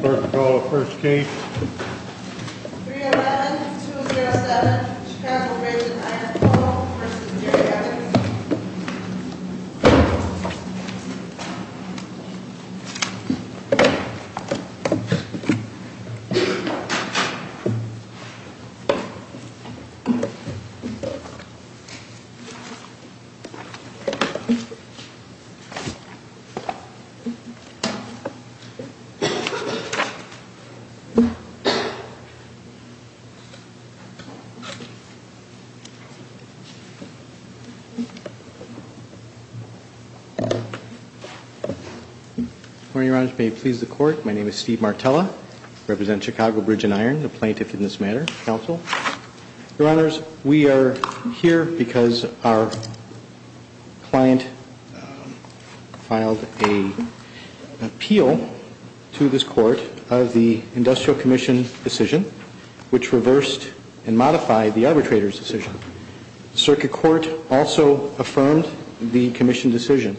First roll of first case. 311-207 Chicago Bridge & Iron Co. v. Jury Attorneys Good morning, Your Honors. May it please the Court, my name is Steve Martella. I represent Chicago Bridge & Iron, the plaintiff in this matter, counsel. Your Honors, we are here because our client filed an appeal to this Court of the Industrial Commission decision which reversed and modified the arbitrator's decision. Circuit Court also affirmed the Commission decision.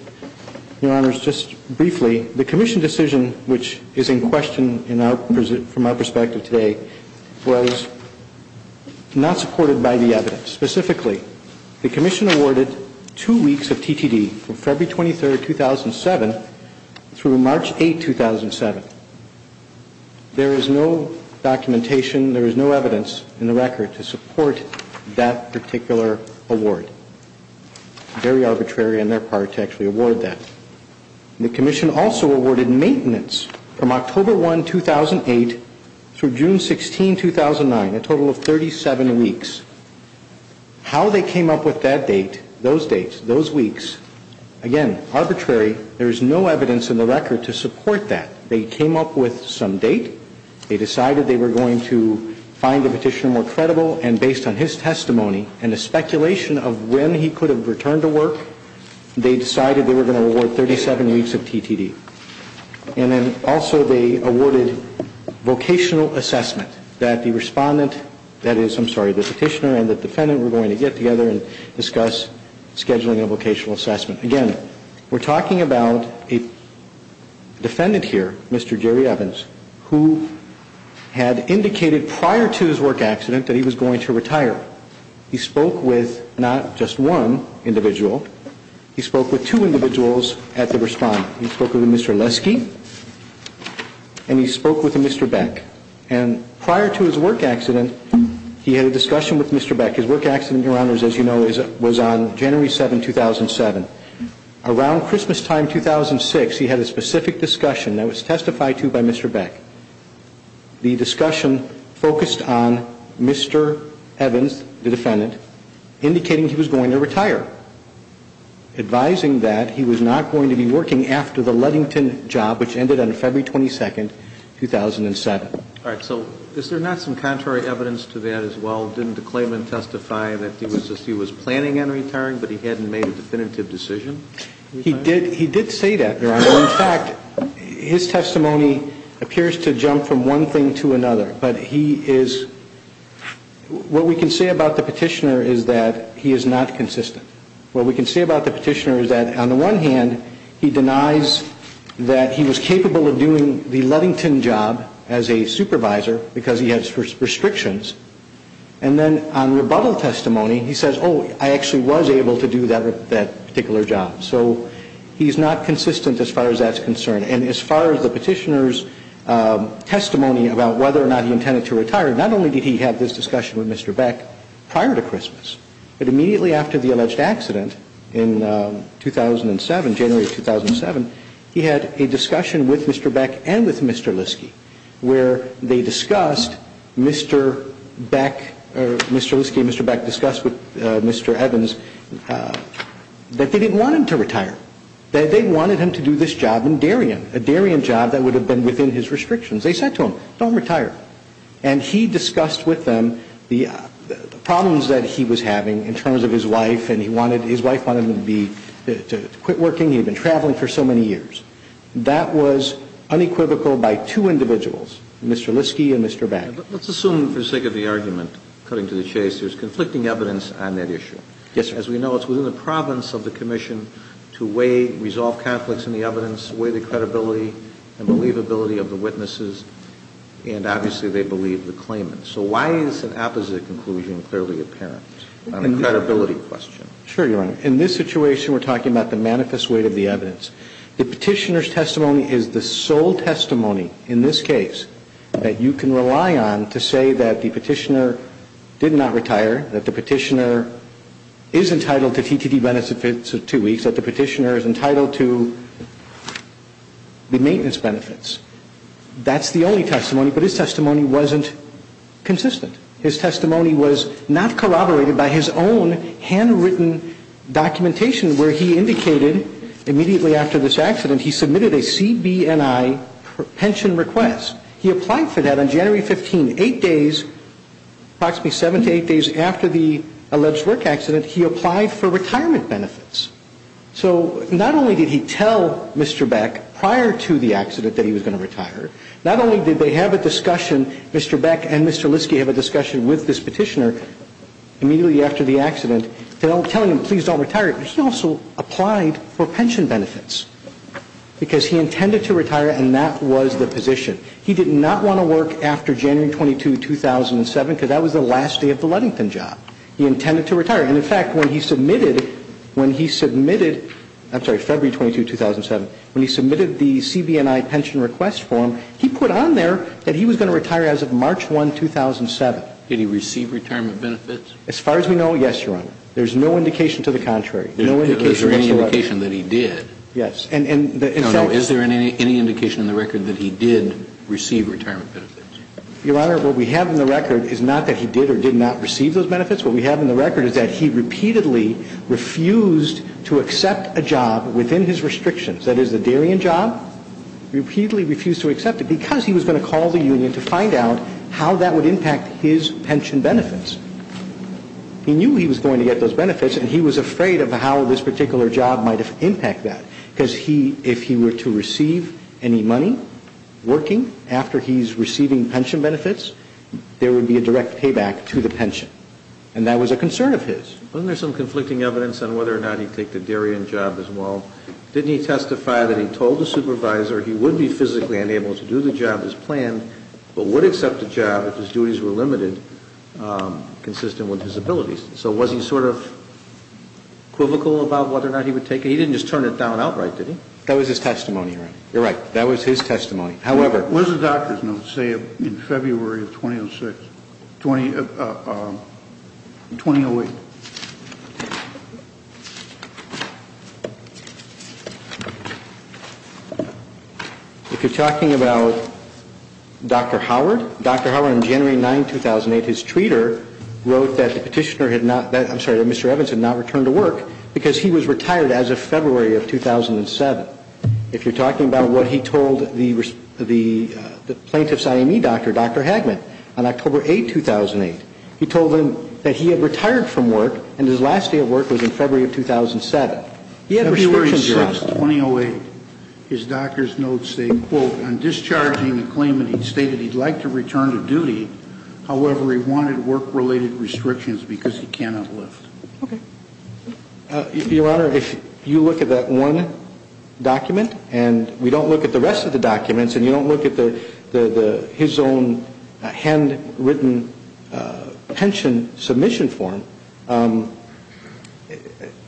Your Honors, just briefly, the Commission decision which is in question from our perspective today was not supported by the evidence. Specifically, the Commission awarded two weeks of TTD from February 23, 2007 through March 8, 2007. There is no documentation, there is no evidence in the record to support that particular award. Very arbitrary on their through June 16, 2009, a total of 37 weeks. How they came up with that date, those dates, those weeks, again, arbitrary. There is no evidence in the record to support that. They came up with some date, they decided they were going to find the petitioner more credible and based on his testimony and the speculation of when he could have returned to work, they also they awarded vocational assessment that the respondent, that is, I'm sorry, the petitioner and the defendant were going to get together and discuss scheduling a vocational assessment. Again, we're talking about a defendant here, Mr. Jerry Evans, who had indicated prior to his work accident that he was going to retire. He spoke with not just one individual, he and he spoke with Mr. Beck. And prior to his work accident, he had a discussion with Mr. Beck. His work accident, your honors, as you know, was on January 7, 2007. Around Christmas time 2006, he had a specific discussion that was testified to by Mr. Beck. The discussion focused on Mr. Evans, the defendant, indicating he was going to retire. Advising that he was not going to be working after the Ludington job, which ended on February 22, 2007. All right. So is there not some contrary evidence to that as well? Didn't the claimant testify that he was planning on retiring, but he hadn't made a definitive decision? He did say that, your honor. In fact, his testimony appears to jump from one thing to another. But he is, what we can say about the petitioner is that he is not consistent. What we can say about the petitioner is that on the one hand, he denies that he was capable of doing the Ludington job as a supervisor because he has restrictions. And then on rebuttal testimony, he says, oh, I actually was able to do that particular job. So he's not consistent as far as that's concerned. And as far as the petitioner's testimony about whether or not he intended to retire, not only did he have this discussion with Mr. Beck prior to this accident in 2007, January of 2007, he had a discussion with Mr. Beck and with Mr. Liske where they discussed Mr. Beck or Mr. Liske and Mr. Beck discussed with Mr. Evans that they didn't want him to retire. They wanted him to do this job in Darien, a Darien job that would have been within his restrictions. They said to him, don't retire. And he discussed with them the problems that he was having in terms of his wife and he wanted, his wife wanted him to be, to quit working. He had been traveling for so many years. That was unequivocal by two individuals, Mr. Liske and Mr. Beck. Let's assume for the sake of the argument, cutting to the chase, there's conflicting evidence on that issue. Yes, sir. As we know, it's within the province of the commission to weigh, resolve conflicts in the evidence, weigh the credibility and believability of the witnesses, and obviously they believe the claimant. So why is an opposite conclusion clearly apparent on a credibility question? Sure, Your Honor. In this situation, we're talking about the manifest weight of the evidence. The petitioner's testimony is the sole testimony in this case that you can rely on to say that the petitioner did not retire, that the petitioner is entitled to TTT benefits of two weeks, that the petitioner is entitled to the maintenance benefits. That's the only testimony, but his testimony was consistent. His testimony was not corroborated by his own handwritten documentation where he indicated immediately after this accident, he submitted a CBNI pension request. He applied for that on January 15, eight days, approximately seven to eight days after the alleged work accident, he applied for retirement benefits. So not only did he tell Mr. Beck prior to the accident that he was going to retire, Mr. Beck and Mr. Liske have a discussion with this petitioner immediately after the accident telling him please don't retire, but he also applied for pension benefits. Because he intended to retire and that was the position. He did not want to work after January 22, 2007, because that was the last day of the Ludington job. He intended to retire. And in fact, when he submitted, when he submitted, I'm sorry, February 22, 2007, when he submitted the CBNI pension request form, he put on there that he was going to retire as of March 1, 2007. Did he receive retirement benefits? As far as we know, yes, Your Honor. There's no indication to the contrary. Is there any indication that he did? Yes. Is there any indication in the record that he did receive retirement benefits? Your Honor, what we have in the record is not that he did or did not receive those benefits. What we have in the record is that he repeatedly refused to accept a job within his Why? Repeatedly refused to accept it, because he was going to call the union to find out how that would impact his pension benefits. He knew he was going to get those benefits and he was afraid of how this particular job might impact that. Because he, if he were to receive any money working after he's receiving pension benefits, there would be a direct payback to the pension. And that was a concern of his. Wasn't there some conflicting evidence on whether or not he took the Darien job as well? Didn't he testify that he told the supervisor he would be physically unable to do the job as planned, but would accept the job if his duties were limited, consistent with his abilities? So was he sort of equivocal about whether or not he would take it? He didn't just turn it down outright, did he? That was his testimony, Your Honor. You're right. That was his testimony. However What was the doctor's note, say, in February of 2006? 2008? If you're talking about Dr. Howard, Dr. Howard, on January 9, 2008, his tweeter wrote that the petitioner had not, I'm sorry, that Mr. Evans had not returned to work because he was retired as of February of 2007. If you're talking about what he told the plaintiff's IME doctor, Dr. Hagman, on October 8, 2008, he told them that he had retired from work and his last day of work was in February of 2007. He had restrictions set. February 6, 2008, his doctor's notes say, quote, on discharging the claimant he stated he'd like to return to duty. However, he wanted work-related restrictions because he cannot lift. Okay. Your Honor, if you look at that one document and we don't look at the rest of the documents and you don't look at his own handwritten pension submission form,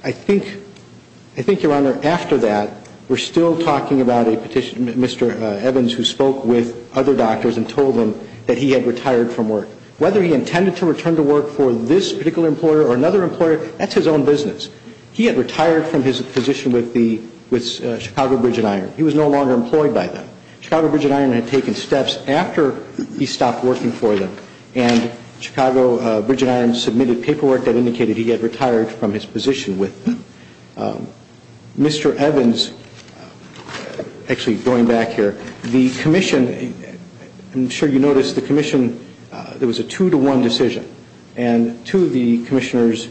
I think, Your Honor, after that we're still talking about a petitioner, Mr. Evans, who spoke with other doctors and told them that he had retired from work. Whether he intended to return to work for this particular employer or another employer, that's his own business. He had retired from his position with the Chicago Bridge and Iron. He was no longer employed by them. Chicago Bridge and Iron had taken steps after he stopped working for them and Chicago Bridge and Iron submitted paperwork that indicated he had retired from his position with them. I'm sure you noticed the commission, there was a two-to-one decision. And two of the commissioners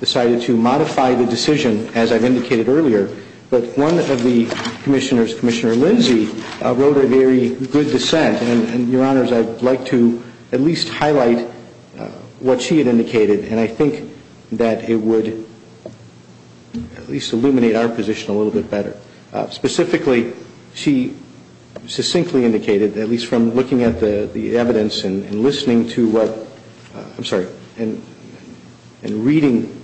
decided to modify the decision, as I've indicated earlier, but one of the commissioners, Commissioner Lindsey, wrote a very good dissent. And, Your Honors, I'd like to at least highlight what she had indicated, and I think that it would at least illuminate our position a little bit better. Specifically, she succinctly indicated, at least from looking at the evidence and listening to what, I'm sorry, and reading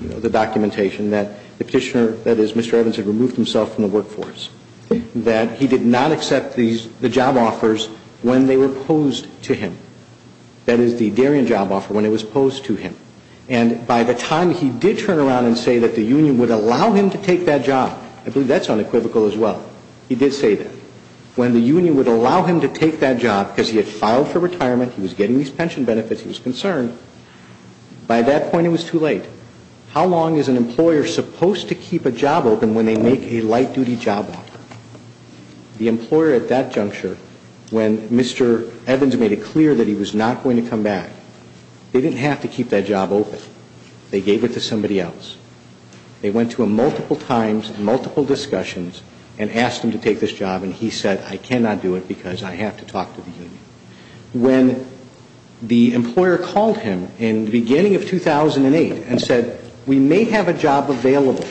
the documentation, that the petitioner, that is, Mr. Evans, had removed himself from the workforce, that he did not accept the job offers when they were posed to him. That is, the Darien job offer when it was posed to him. And by the time he did turn around and say that the union would allow him to take that job, I believe that's unequivocal as well, he did say that. When the union would allow him to take that job because he had filed for retirement, he was getting these pension benefits, he was concerned, by that point it was too late. How long is an employer supposed to keep a job open when they make a light-duty job offer? The employer at that juncture, when Mr. Evans made it clear that he was not going to come back, they didn't have to keep that job open. They gave it to somebody else. They went to him multiple times, multiple discussions, and asked him to take this job, and he said, I cannot do it because I have to talk to the union. When the employer called him in the beginning of 2008 and said, we may have a job available,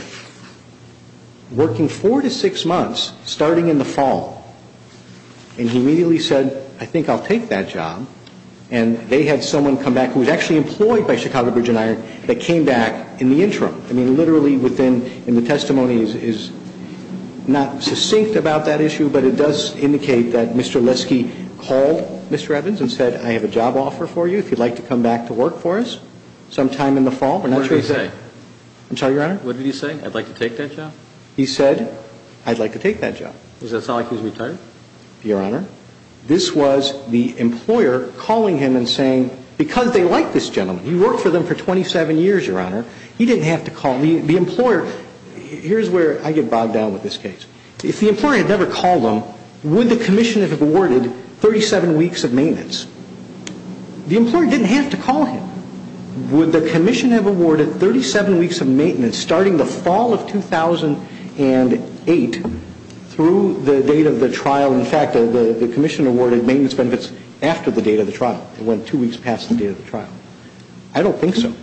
working four to six months, starting in the fall, and he immediately said, I think I'll take that job, and they had someone come back who was actually employed by Chicago Bridge and Iron that came back in the interim. I mean, literally within the testimony is not succinct about that issue, but it does indicate that Mr. Leske called Mr. Evans and said, I have a job offer for you if you'd like to come back to work for us sometime in the fall. What did he say? I'm sorry, Your Honor? What did he say? I'd like to take that job? He said, I'd like to take that job. Does that sound like he's retired? Your Honor, this was the employer calling him and saying, because they like this gentleman. He worked for them for 27 years, Your Honor. He didn't have to call. The employer, here's where I get bogged down with this case. If the employer had never called him, would the commission have awarded 37 weeks of maintenance? The employer didn't have to call him. Would the commission have awarded 37 weeks of maintenance starting the fall of 2008 through the date of the trial? In fact, the commission awarded maintenance benefits after the date of the trial. It went two weeks past the date of the trial. I don't think so.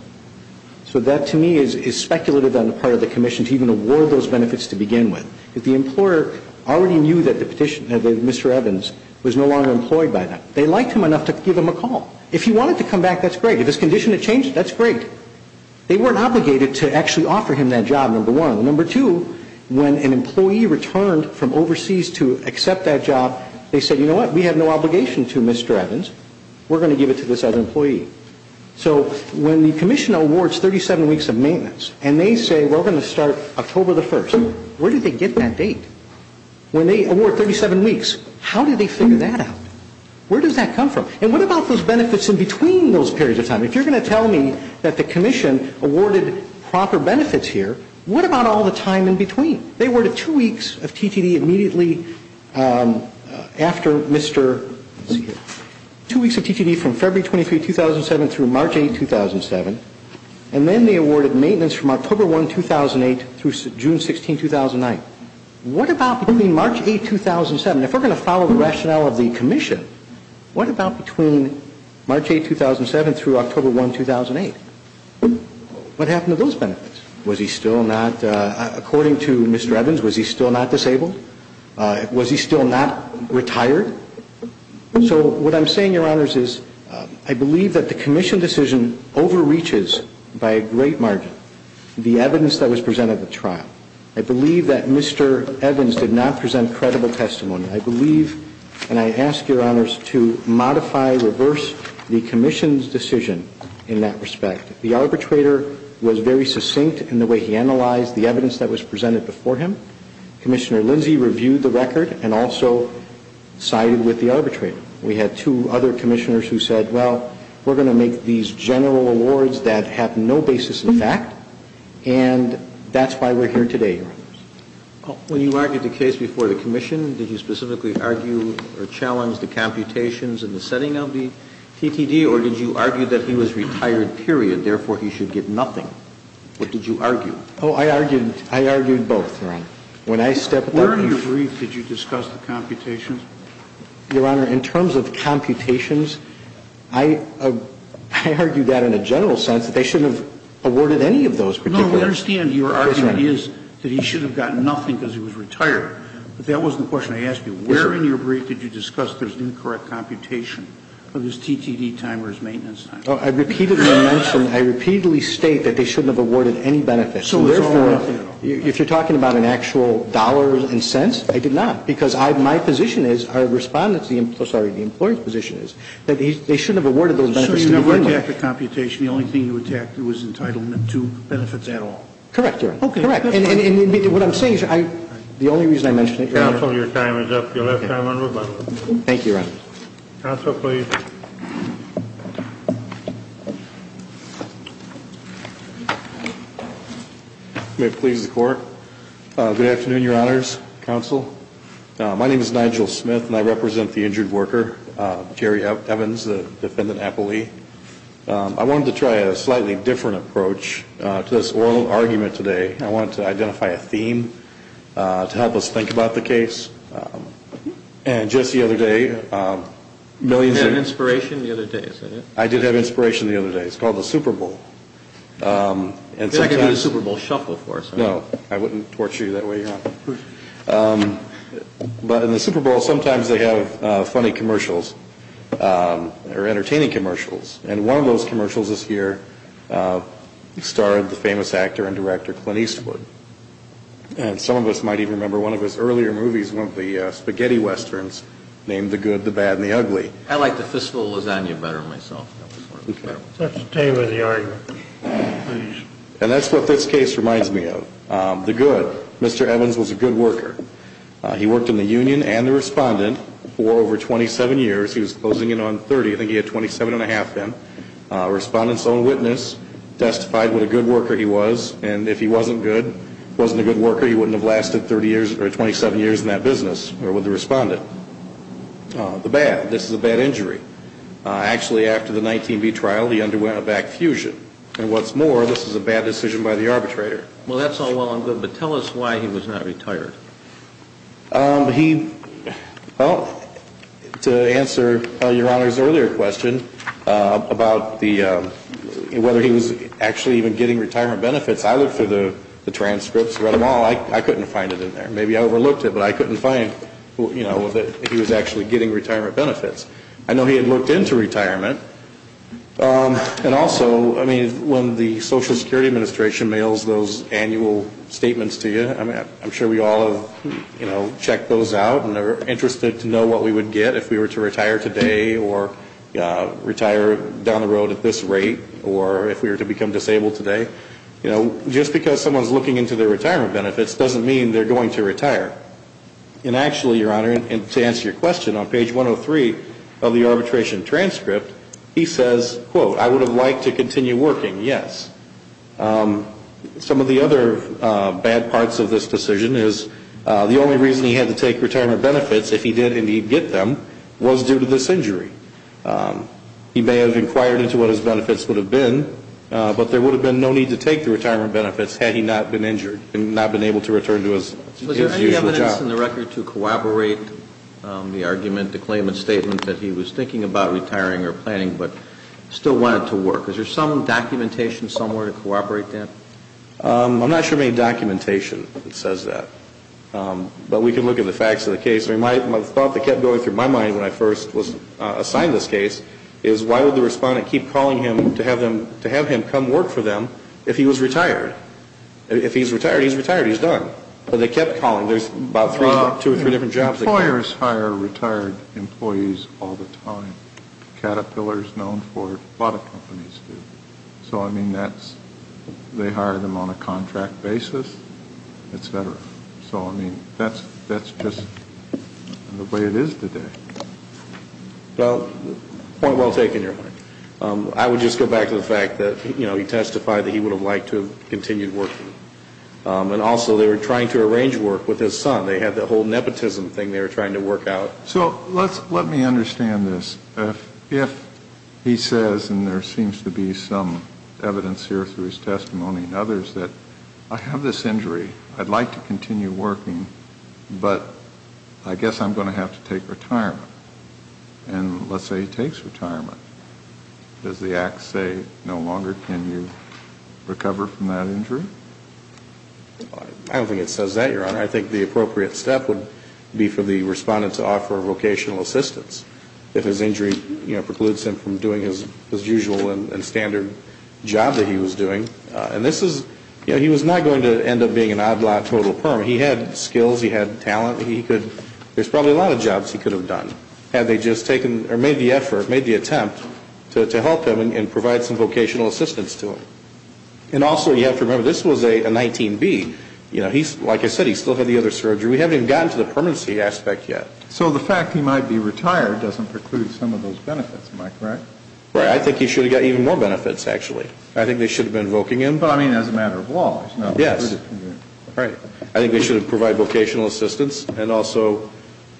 So that to me is speculative on the part of the commission to even award those benefits to begin with. If the employer already knew that Mr. Evans was no longer employed by them, they liked him enough to give him a call. If he wanted to come back, that's great. If his condition had changed, that's great. They weren't obligated to actually offer him that job, number one. Number two, when an employee returned from overseas to accept that job, they said, you know what, we have no obligation to Mr. Evans. We're going to give it to this other employee. So when the commission awards 37 weeks of maintenance and they say we're going to start October the 1st, where did they get that date? When they award 37 weeks, how did they figure that out? Where does that come from? And what about those benefits in between those periods of time? If you're going to tell me that the commission awarded proper benefits here, what about all the time in between? They awarded two weeks of TTD immediately after Mr. ______. Two weeks of TTD from February 23, 2007 through March 8, 2007. And then they awarded maintenance from October 1, 2008 through June 16, 2009. What about between March 8, 2007? And if we're going to follow the rationale of the commission, what about between March 8, 2007 through October 1, 2008? What happened to those benefits? Was he still not, according to Mr. Evans, was he still not disabled? Was he still not retired? So what I'm saying, Your Honors, is I believe that the commission decision overreaches by a great margin the evidence that was presented at the trial. I believe that Mr. Evans did not present credible testimony. I believe, and I ask Your Honors to modify, reverse the commission's decision in that respect. The arbitrator was very succinct in the way he analyzed the evidence that was presented before him. Commissioner Lindsey reviewed the record and also sided with the arbitrator. We had two other commissioners who said, well, we're going to make these general awards that have no basis in fact, and that's why we're here today, Your Honors. When you argued the case before the commission, did you specifically argue or challenge the computations in the setting of the TTD, or did you argue that he was retired, period, therefore he should get nothing? What did you argue? Oh, I argued both, Your Honor. When I stepped up to brief... Where in your brief did you discuss the computations? Your Honor, in terms of computations, I argued that in a general sense, that they shouldn't have awarded any of those particular... No, we understand your argument is that he should have gotten nothing because he was retired. But that wasn't the question I asked you. Where in your brief did you discuss there's an incorrect computation of his TTD time or his maintenance time? Oh, I repeatedly mentioned, I repeatedly state that they shouldn't have awarded any benefits. So therefore... So there's no benefit at all. If you're talking about an actual dollars and cents, I did not. Because my position is, our respondent's, sorry, the employee's position is, that they shouldn't have awarded those benefits to him. So you never attacked the computation. The only thing you attacked was entitlement to benefits at all. Correct, Your Honor. Okay. Correct. And what I'm saying is, the only reason I mentioned it... Counsel, your time is up. You'll have time on rebuttal. Thank you, Your Honor. Counsel, please. May it please the Court. Good afternoon, Your Honors, Counsel. My name is Nigel Smith, and I represent the injured worker, Jerry Evans, the defendant, Apple Lee. I wanted to try a slightly different approach to this oral argument today. I wanted to identify a theme to help us think about the case. And just the other day, millions of... You did have inspiration the other day, is that it? I did have inspiration the other day. It's called the Super Bowl. I could do the Super Bowl shuffle for us. No, I wouldn't torture you that way, Your Honor. But in the Super Bowl, sometimes they have funny commercials or entertaining commercials. And one of those commercials this year starred the famous actor and director Clint Eastwood. And some of us might even remember one of his earlier movies, one of the spaghetti westerns, named The Good, the Bad, and the Ugly. I like the fistful of lasagna better myself. Dr. Taylor, the argument, please. And that's what this case reminds me of. The Good. Mr. Evans was a good worker. He worked in the union and the Respondent for over 27 years. He was closing in on 30. I think he had 27 1⁄2 in. Respondent's own witness testified what a good worker he was. And if he wasn't good, wasn't a good worker, he wouldn't have lasted 30 years or 27 years in that business or with the Respondent. The Bad. This is a bad injury. Actually, after the 19B trial, he underwent a back fusion. And what's more, this is a bad decision by the arbitrator. Well, that's all well and good. But tell us why he was not retired. He, well, to answer Your Honor's earlier question about whether he was actually even getting retirement benefits, I looked through the transcripts, read them all. I couldn't find it in there. Maybe I overlooked it, but I couldn't find, you know, that he was actually getting retirement benefits. I know he had looked into retirement. And also, I mean, when the Social Security Administration mails those annual statements to you, I'm sure we all have, you know, checked those out and are interested to know what we would get if we were to retire today or retire down the road at this rate or if we were to become disabled today. You know, just because someone's looking into their retirement benefits doesn't mean they're going to retire. And actually, Your Honor, to answer your question, on page 103 of the arbitration transcript, he says, quote, I would have liked to continue working, yes. Some of the other bad parts of this decision is the only reason he had to take retirement benefits, if he did indeed get them, was due to this injury. He may have inquired into what his benefits would have been, but there would have been no need to take the retirement benefits had he not been injured and not been able to return to his usual job. Was there any evidence in the record to corroborate the argument, the claimant's statement, that he was thinking about retiring or planning but still wanted to work? Is there some documentation somewhere to corroborate that? I'm not sure of any documentation that says that. But we can look at the facts of the case. I mean, the thought that kept going through my mind when I first was assigned this case is, why would the respondent keep calling him to have him come work for them if he was retired? If he's retired, he's retired. He's done. But they kept calling. There's about two or three different jobs. Employers hire retired employees all the time. Caterpillar is known for it. A lot of companies do. So, I mean, they hire them on a contract basis, et cetera. So, I mean, that's just the way it is today. Well, point well taken, Your Honor. I would just go back to the fact that, you know, he testified that he would have liked to have continued working. And also they were trying to arrange work with his son. They had that whole nepotism thing they were trying to work out. So let me understand this. If he says, and there seems to be some evidence here through his testimony and others, that I have this injury. I'd like to continue working. But I guess I'm going to have to take retirement. And let's say he takes retirement. Does the act say no longer can you recover from that injury? I don't think it says that, Your Honor. I think the appropriate step would be for the respondent to offer vocational assistance if his injury precludes him from doing his usual and standard job that he was doing. And this is, you know, he was not going to end up being an odd lot total perm. He had skills. He had talent. There's probably a lot of jobs he could have done had they just taken or made the effort, made the attempt to help him and provide some vocational assistance to him. And also you have to remember this was a 19B. You know, like I said, he still had the other surgery. We haven't even gotten to the permanency aspect yet. So the fact he might be retired doesn't preclude some of those benefits, am I correct? Right. I think he should have gotten even more benefits, actually. I think they should have been invoking him. But, I mean, as a matter of law. Yes. Right. I think they should have provided vocational assistance and also,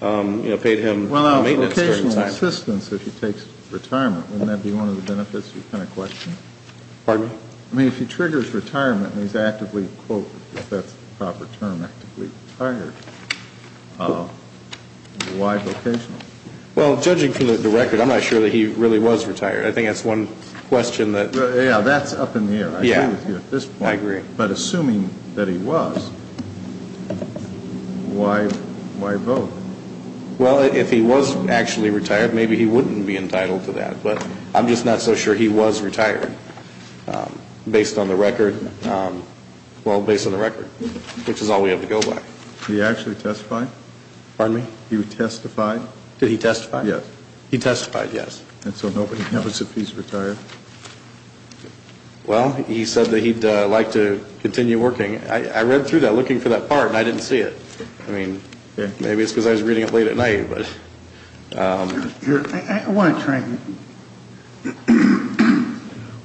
you know, paid him maintenance. Well, vocational assistance if he takes retirement, wouldn't that be one of the benefits you kind of questioned? Pardon? I mean, if he triggers retirement and he's actively, quote, if that's the proper term, actively retired, why vocational? Well, judging from the record, I'm not sure that he really was retired. I think that's one question that. Yeah, that's up in the air. I agree with you at this point. I agree. But assuming that he was, why voc? Well, if he was actually retired, maybe he wouldn't be entitled to that. But I'm just not so sure he was retired based on the record. Well, based on the record, which is all we have to go by. Did he actually testify? Pardon me? Did he testify? Did he testify? Yes. He testified, yes. And so nobody knows if he's retired. Well, he said that he'd like to continue working. I read through that looking for that part, and I didn't see it. I mean, maybe it's because I was reading it late at night. I want to try.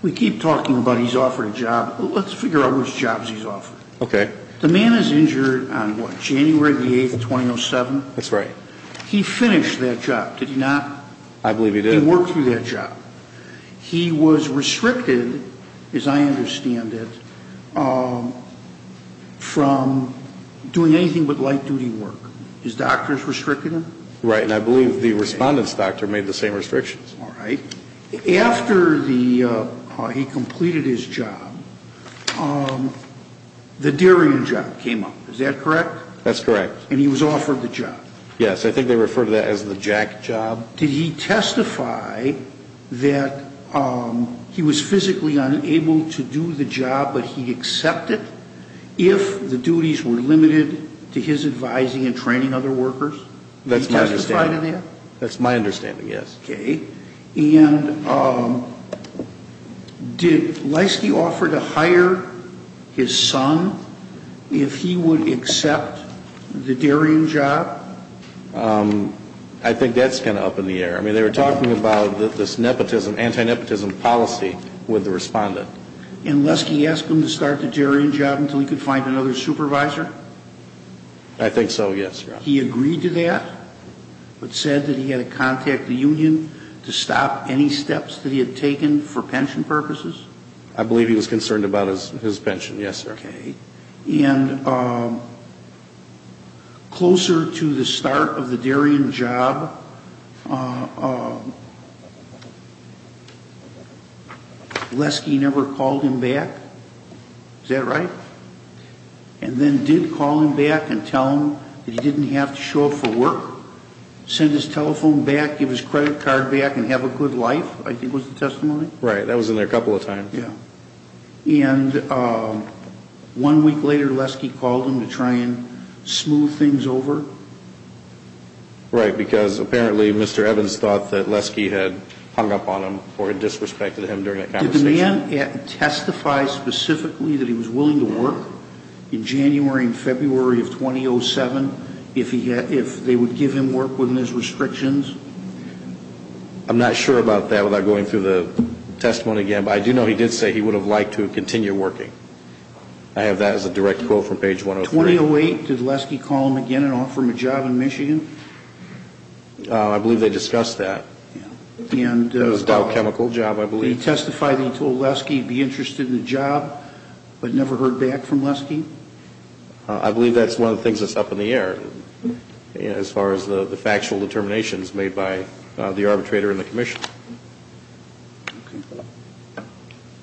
We keep talking about he's offered a job. Let's figure out which jobs he's offered. Okay. The man is injured on, what, January the 8th, 2007? That's right. He finished that job, did he not? I believe he did. He worked through that job. He was restricted, as I understand it, from doing anything but light-duty work. His doctors restricted him? Right. And I believe the respondent's doctor made the same restrictions. All right. After he completed his job, the dairying job came up. Is that correct? That's correct. And he was offered the job. Yes. I think they refer to that as the jack job. Did he testify that he was physically unable to do the job, but he accepted, if the duties were limited to his advising and training other workers? That's my understanding. Did he testify to that? That's my understanding, yes. Okay. And did Leiske offer to hire his son if he would accept the dairying job? I think that's kind of up in the air. I mean, they were talking about this nepotism, anti-nepotism policy with the respondent. And Leiske asked him to start the dairying job until he could find another supervisor? I think so, yes. He agreed to that, but said that he had to contact the union to stop any steps that he had taken for pension purposes? I believe he was concerned about his pension, yes, sir. Okay. And closer to the start of the dairying job, Leiske never called him back. Is that right? And then did call him back and tell him that he didn't have to show up for work, send his telephone back, give his credit card back, and have a good life, I think was the testimony? Right. That was in there a couple of times. Yeah. And one week later, Leiske called him to try and smooth things over? Right, because apparently Mr. Evans thought that Leiske had hung up on him or had disrespected him during that conversation. Can it testify specifically that he was willing to work in January and February of 2007 if they would give him work within his restrictions? I'm not sure about that without going through the testimony again, but I do know he did say he would have liked to continue working. I have that as a direct quote from page 103. In 2008, did Leiske call him again and offer him a job in Michigan? I believe they discussed that. It was a Dow Chemical job, I believe. Did he testify that he told Leiske he'd be interested in the job but never heard back from Leiske? I believe that's one of the things that's up in the air as far as the factual determinations made by the arbitrator and the commissioner.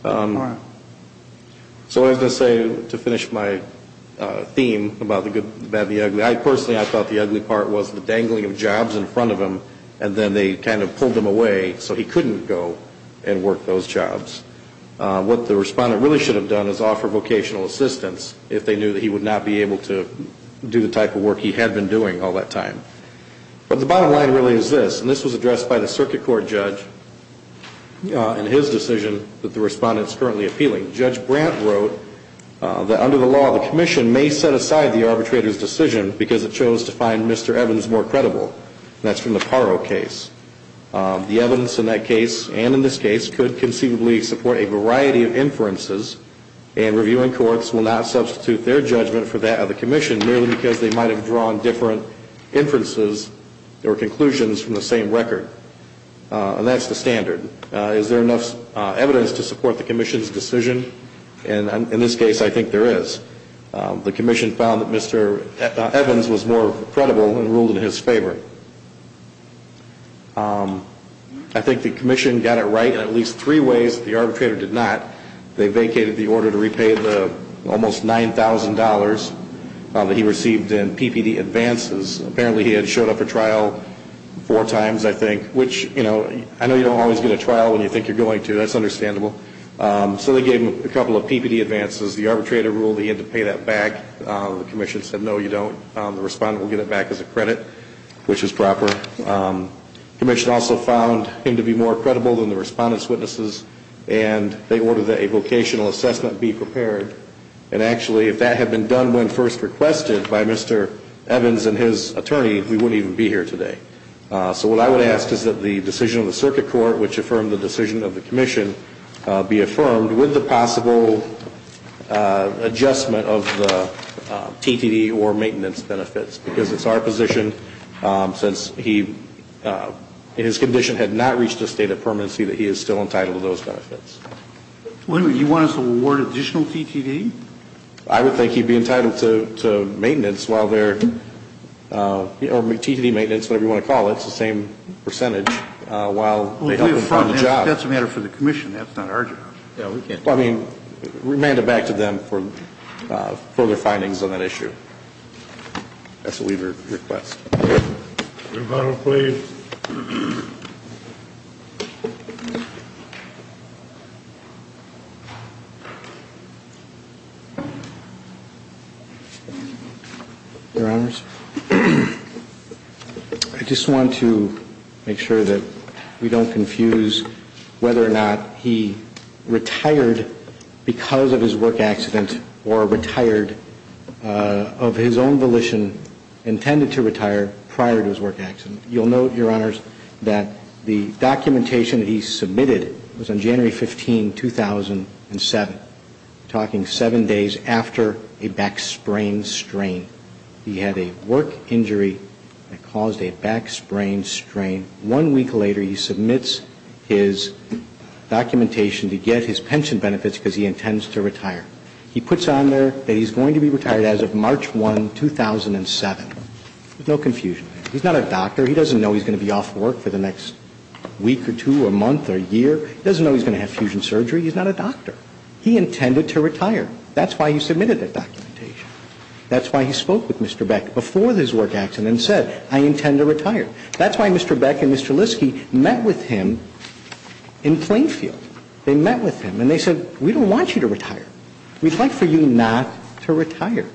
So I was going to say, to finish my theme about the ugly, I personally thought the ugly part was the dangling of jobs in front of him and then they kind of pulled him away so he couldn't go and work those jobs. What the respondent really should have done is offer vocational assistance if they knew that he would not be able to do the type of work he had been doing all that time. But the bottom line really is this, and this was addressed by the circuit court judge in his decision that the respondent is currently appealing. Judge Brandt wrote that under the law, the commission may set aside the arbitrator's decision because it chose to find Mr. Evans more credible. That's from the Paro case. The evidence in that case and in this case could conceivably support a variety of inferences and reviewing courts will not substitute their judgment for that of the commission merely because they might have drawn different inferences or conclusions from the same record. And that's the standard. Is there enough evidence to support the commission's decision? In this case, I think there is. The commission found that Mr. Evans was more credible and ruled in his favor. I think the commission got it right in at least three ways that the arbitrator did not. They vacated the order to repay the almost $9,000 that he received in PPD advances. Apparently he had showed up for trial four times, I think, which I know you don't always get a trial when you think you're going to. That's understandable. So they gave him a couple of PPD advances. The arbitrator ruled he had to pay that back. The commission said, no, you don't. The respondent will get it back as a credit, which is proper. The commission also found him to be more credible than the respondent's witnesses, and they ordered that a vocational assessment be prepared. And actually, if that had been done when first requested by Mr. Evans and his attorney, we wouldn't even be here today. So what I would ask is that the decision of the circuit court, which affirmed the decision of the commission, be affirmed with the possible adjustment of the TTD or maintenance benefits, because it's our position since he, in his condition, had not reached a state of permanency that he is still entitled to those benefits. You want us to award additional TTD? I would think he'd be entitled to maintenance while they're, or TTD maintenance, whatever you want to call it. And that's the same percentage while they help him find a job. That's a matter for the commission. That's not our job. Yeah, we can't do that. Well, I mean, remand it back to them for further findings on that issue. That's a waiver request. Rebuttal, please. Your Honors. I just want to make sure that we don't confuse whether or not he retired because of his work accident or retired of his own volition, intended to retire prior to his work accident. You'll note, Your Honors, that the documentation that he submitted was on January 15, 2007, talking seven days after a back sprain strain. He had a work injury that caused a back sprain strain. One week later, he submits his documentation to get his pension benefits because he intends to retire. He puts on there that he's going to be retired as of March 1, 2007. There's no confusion there. He's not a doctor. He doesn't know he's going to be off work for the next week or two or month or year. He doesn't know he's going to have fusion surgery. He's not a doctor. He intended to retire. That's why he submitted that documentation. That's why he spoke with Mr. Beck before his work accident and said, I intend to retire. That's why Mr. Beck and Mr. Liske met with him in Plainfield. They met with him and they said, we don't want you to retire. We'd like for you not to retire.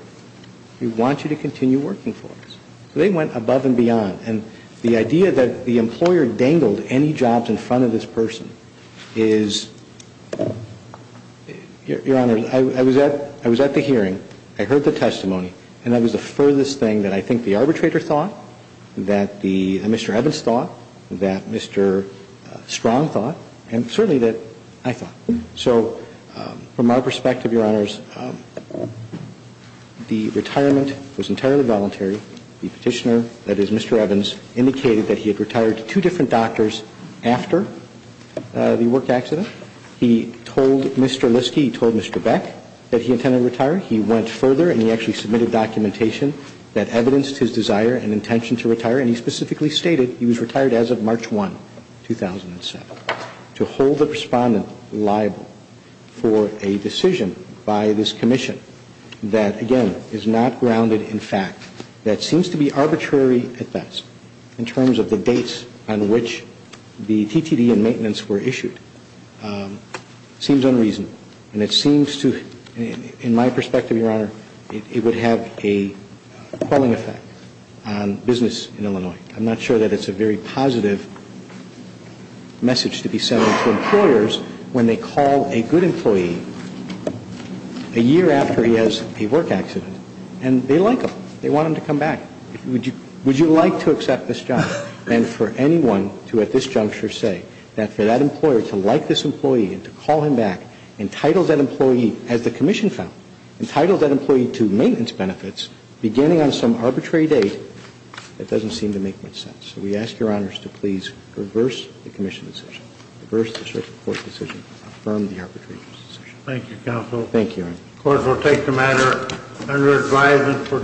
We want you to continue working for us. So they went above and beyond. And the idea that the employer dangled any jobs in front of this person is, Your Honors, I was at the hearing. I heard the testimony. And that was the furthest thing that I think the arbitrator thought, that Mr. Evans thought, that Mr. Strong thought, and certainly that I thought. So from our perspective, Your Honors, the retirement was entirely voluntary. The Petitioner, that is Mr. Evans, indicated that he had retired to two different doctors after the work accident. He told Mr. Liske, he told Mr. Beck that he intended to retire. He went further and he actually submitted documentation that evidenced his desire and intention to retire. And he specifically stated he was retired as of March 1, 2007. To hold the Respondent liable for a decision by this Commission that, again, is not grounded in fact, that seems to be arbitrary at best in terms of the dates on which the TTD and the Petitioner met, seems unreasonable. And it seems to, in my perspective, Your Honor, it would have a quelling effect on business in Illinois. I'm not sure that it's a very positive message to be sending to employers when they call a good employee a year after he has a work accident and they like him. They want him to come back. Would you like to accept this job? And for anyone to, at this juncture, say that for that employer to like this employee and to call him back, entitle that employee, as the Commission found, entitle that employee to maintenance benefits beginning on some arbitrary date, that doesn't seem to make much sense. So we ask Your Honors to please reverse the Commission decision, reverse the District Court decision, affirm the arbitrary decision. Thank you, Counsel. Thank you, Your Honor. The Court will take the matter under advisement for disposition.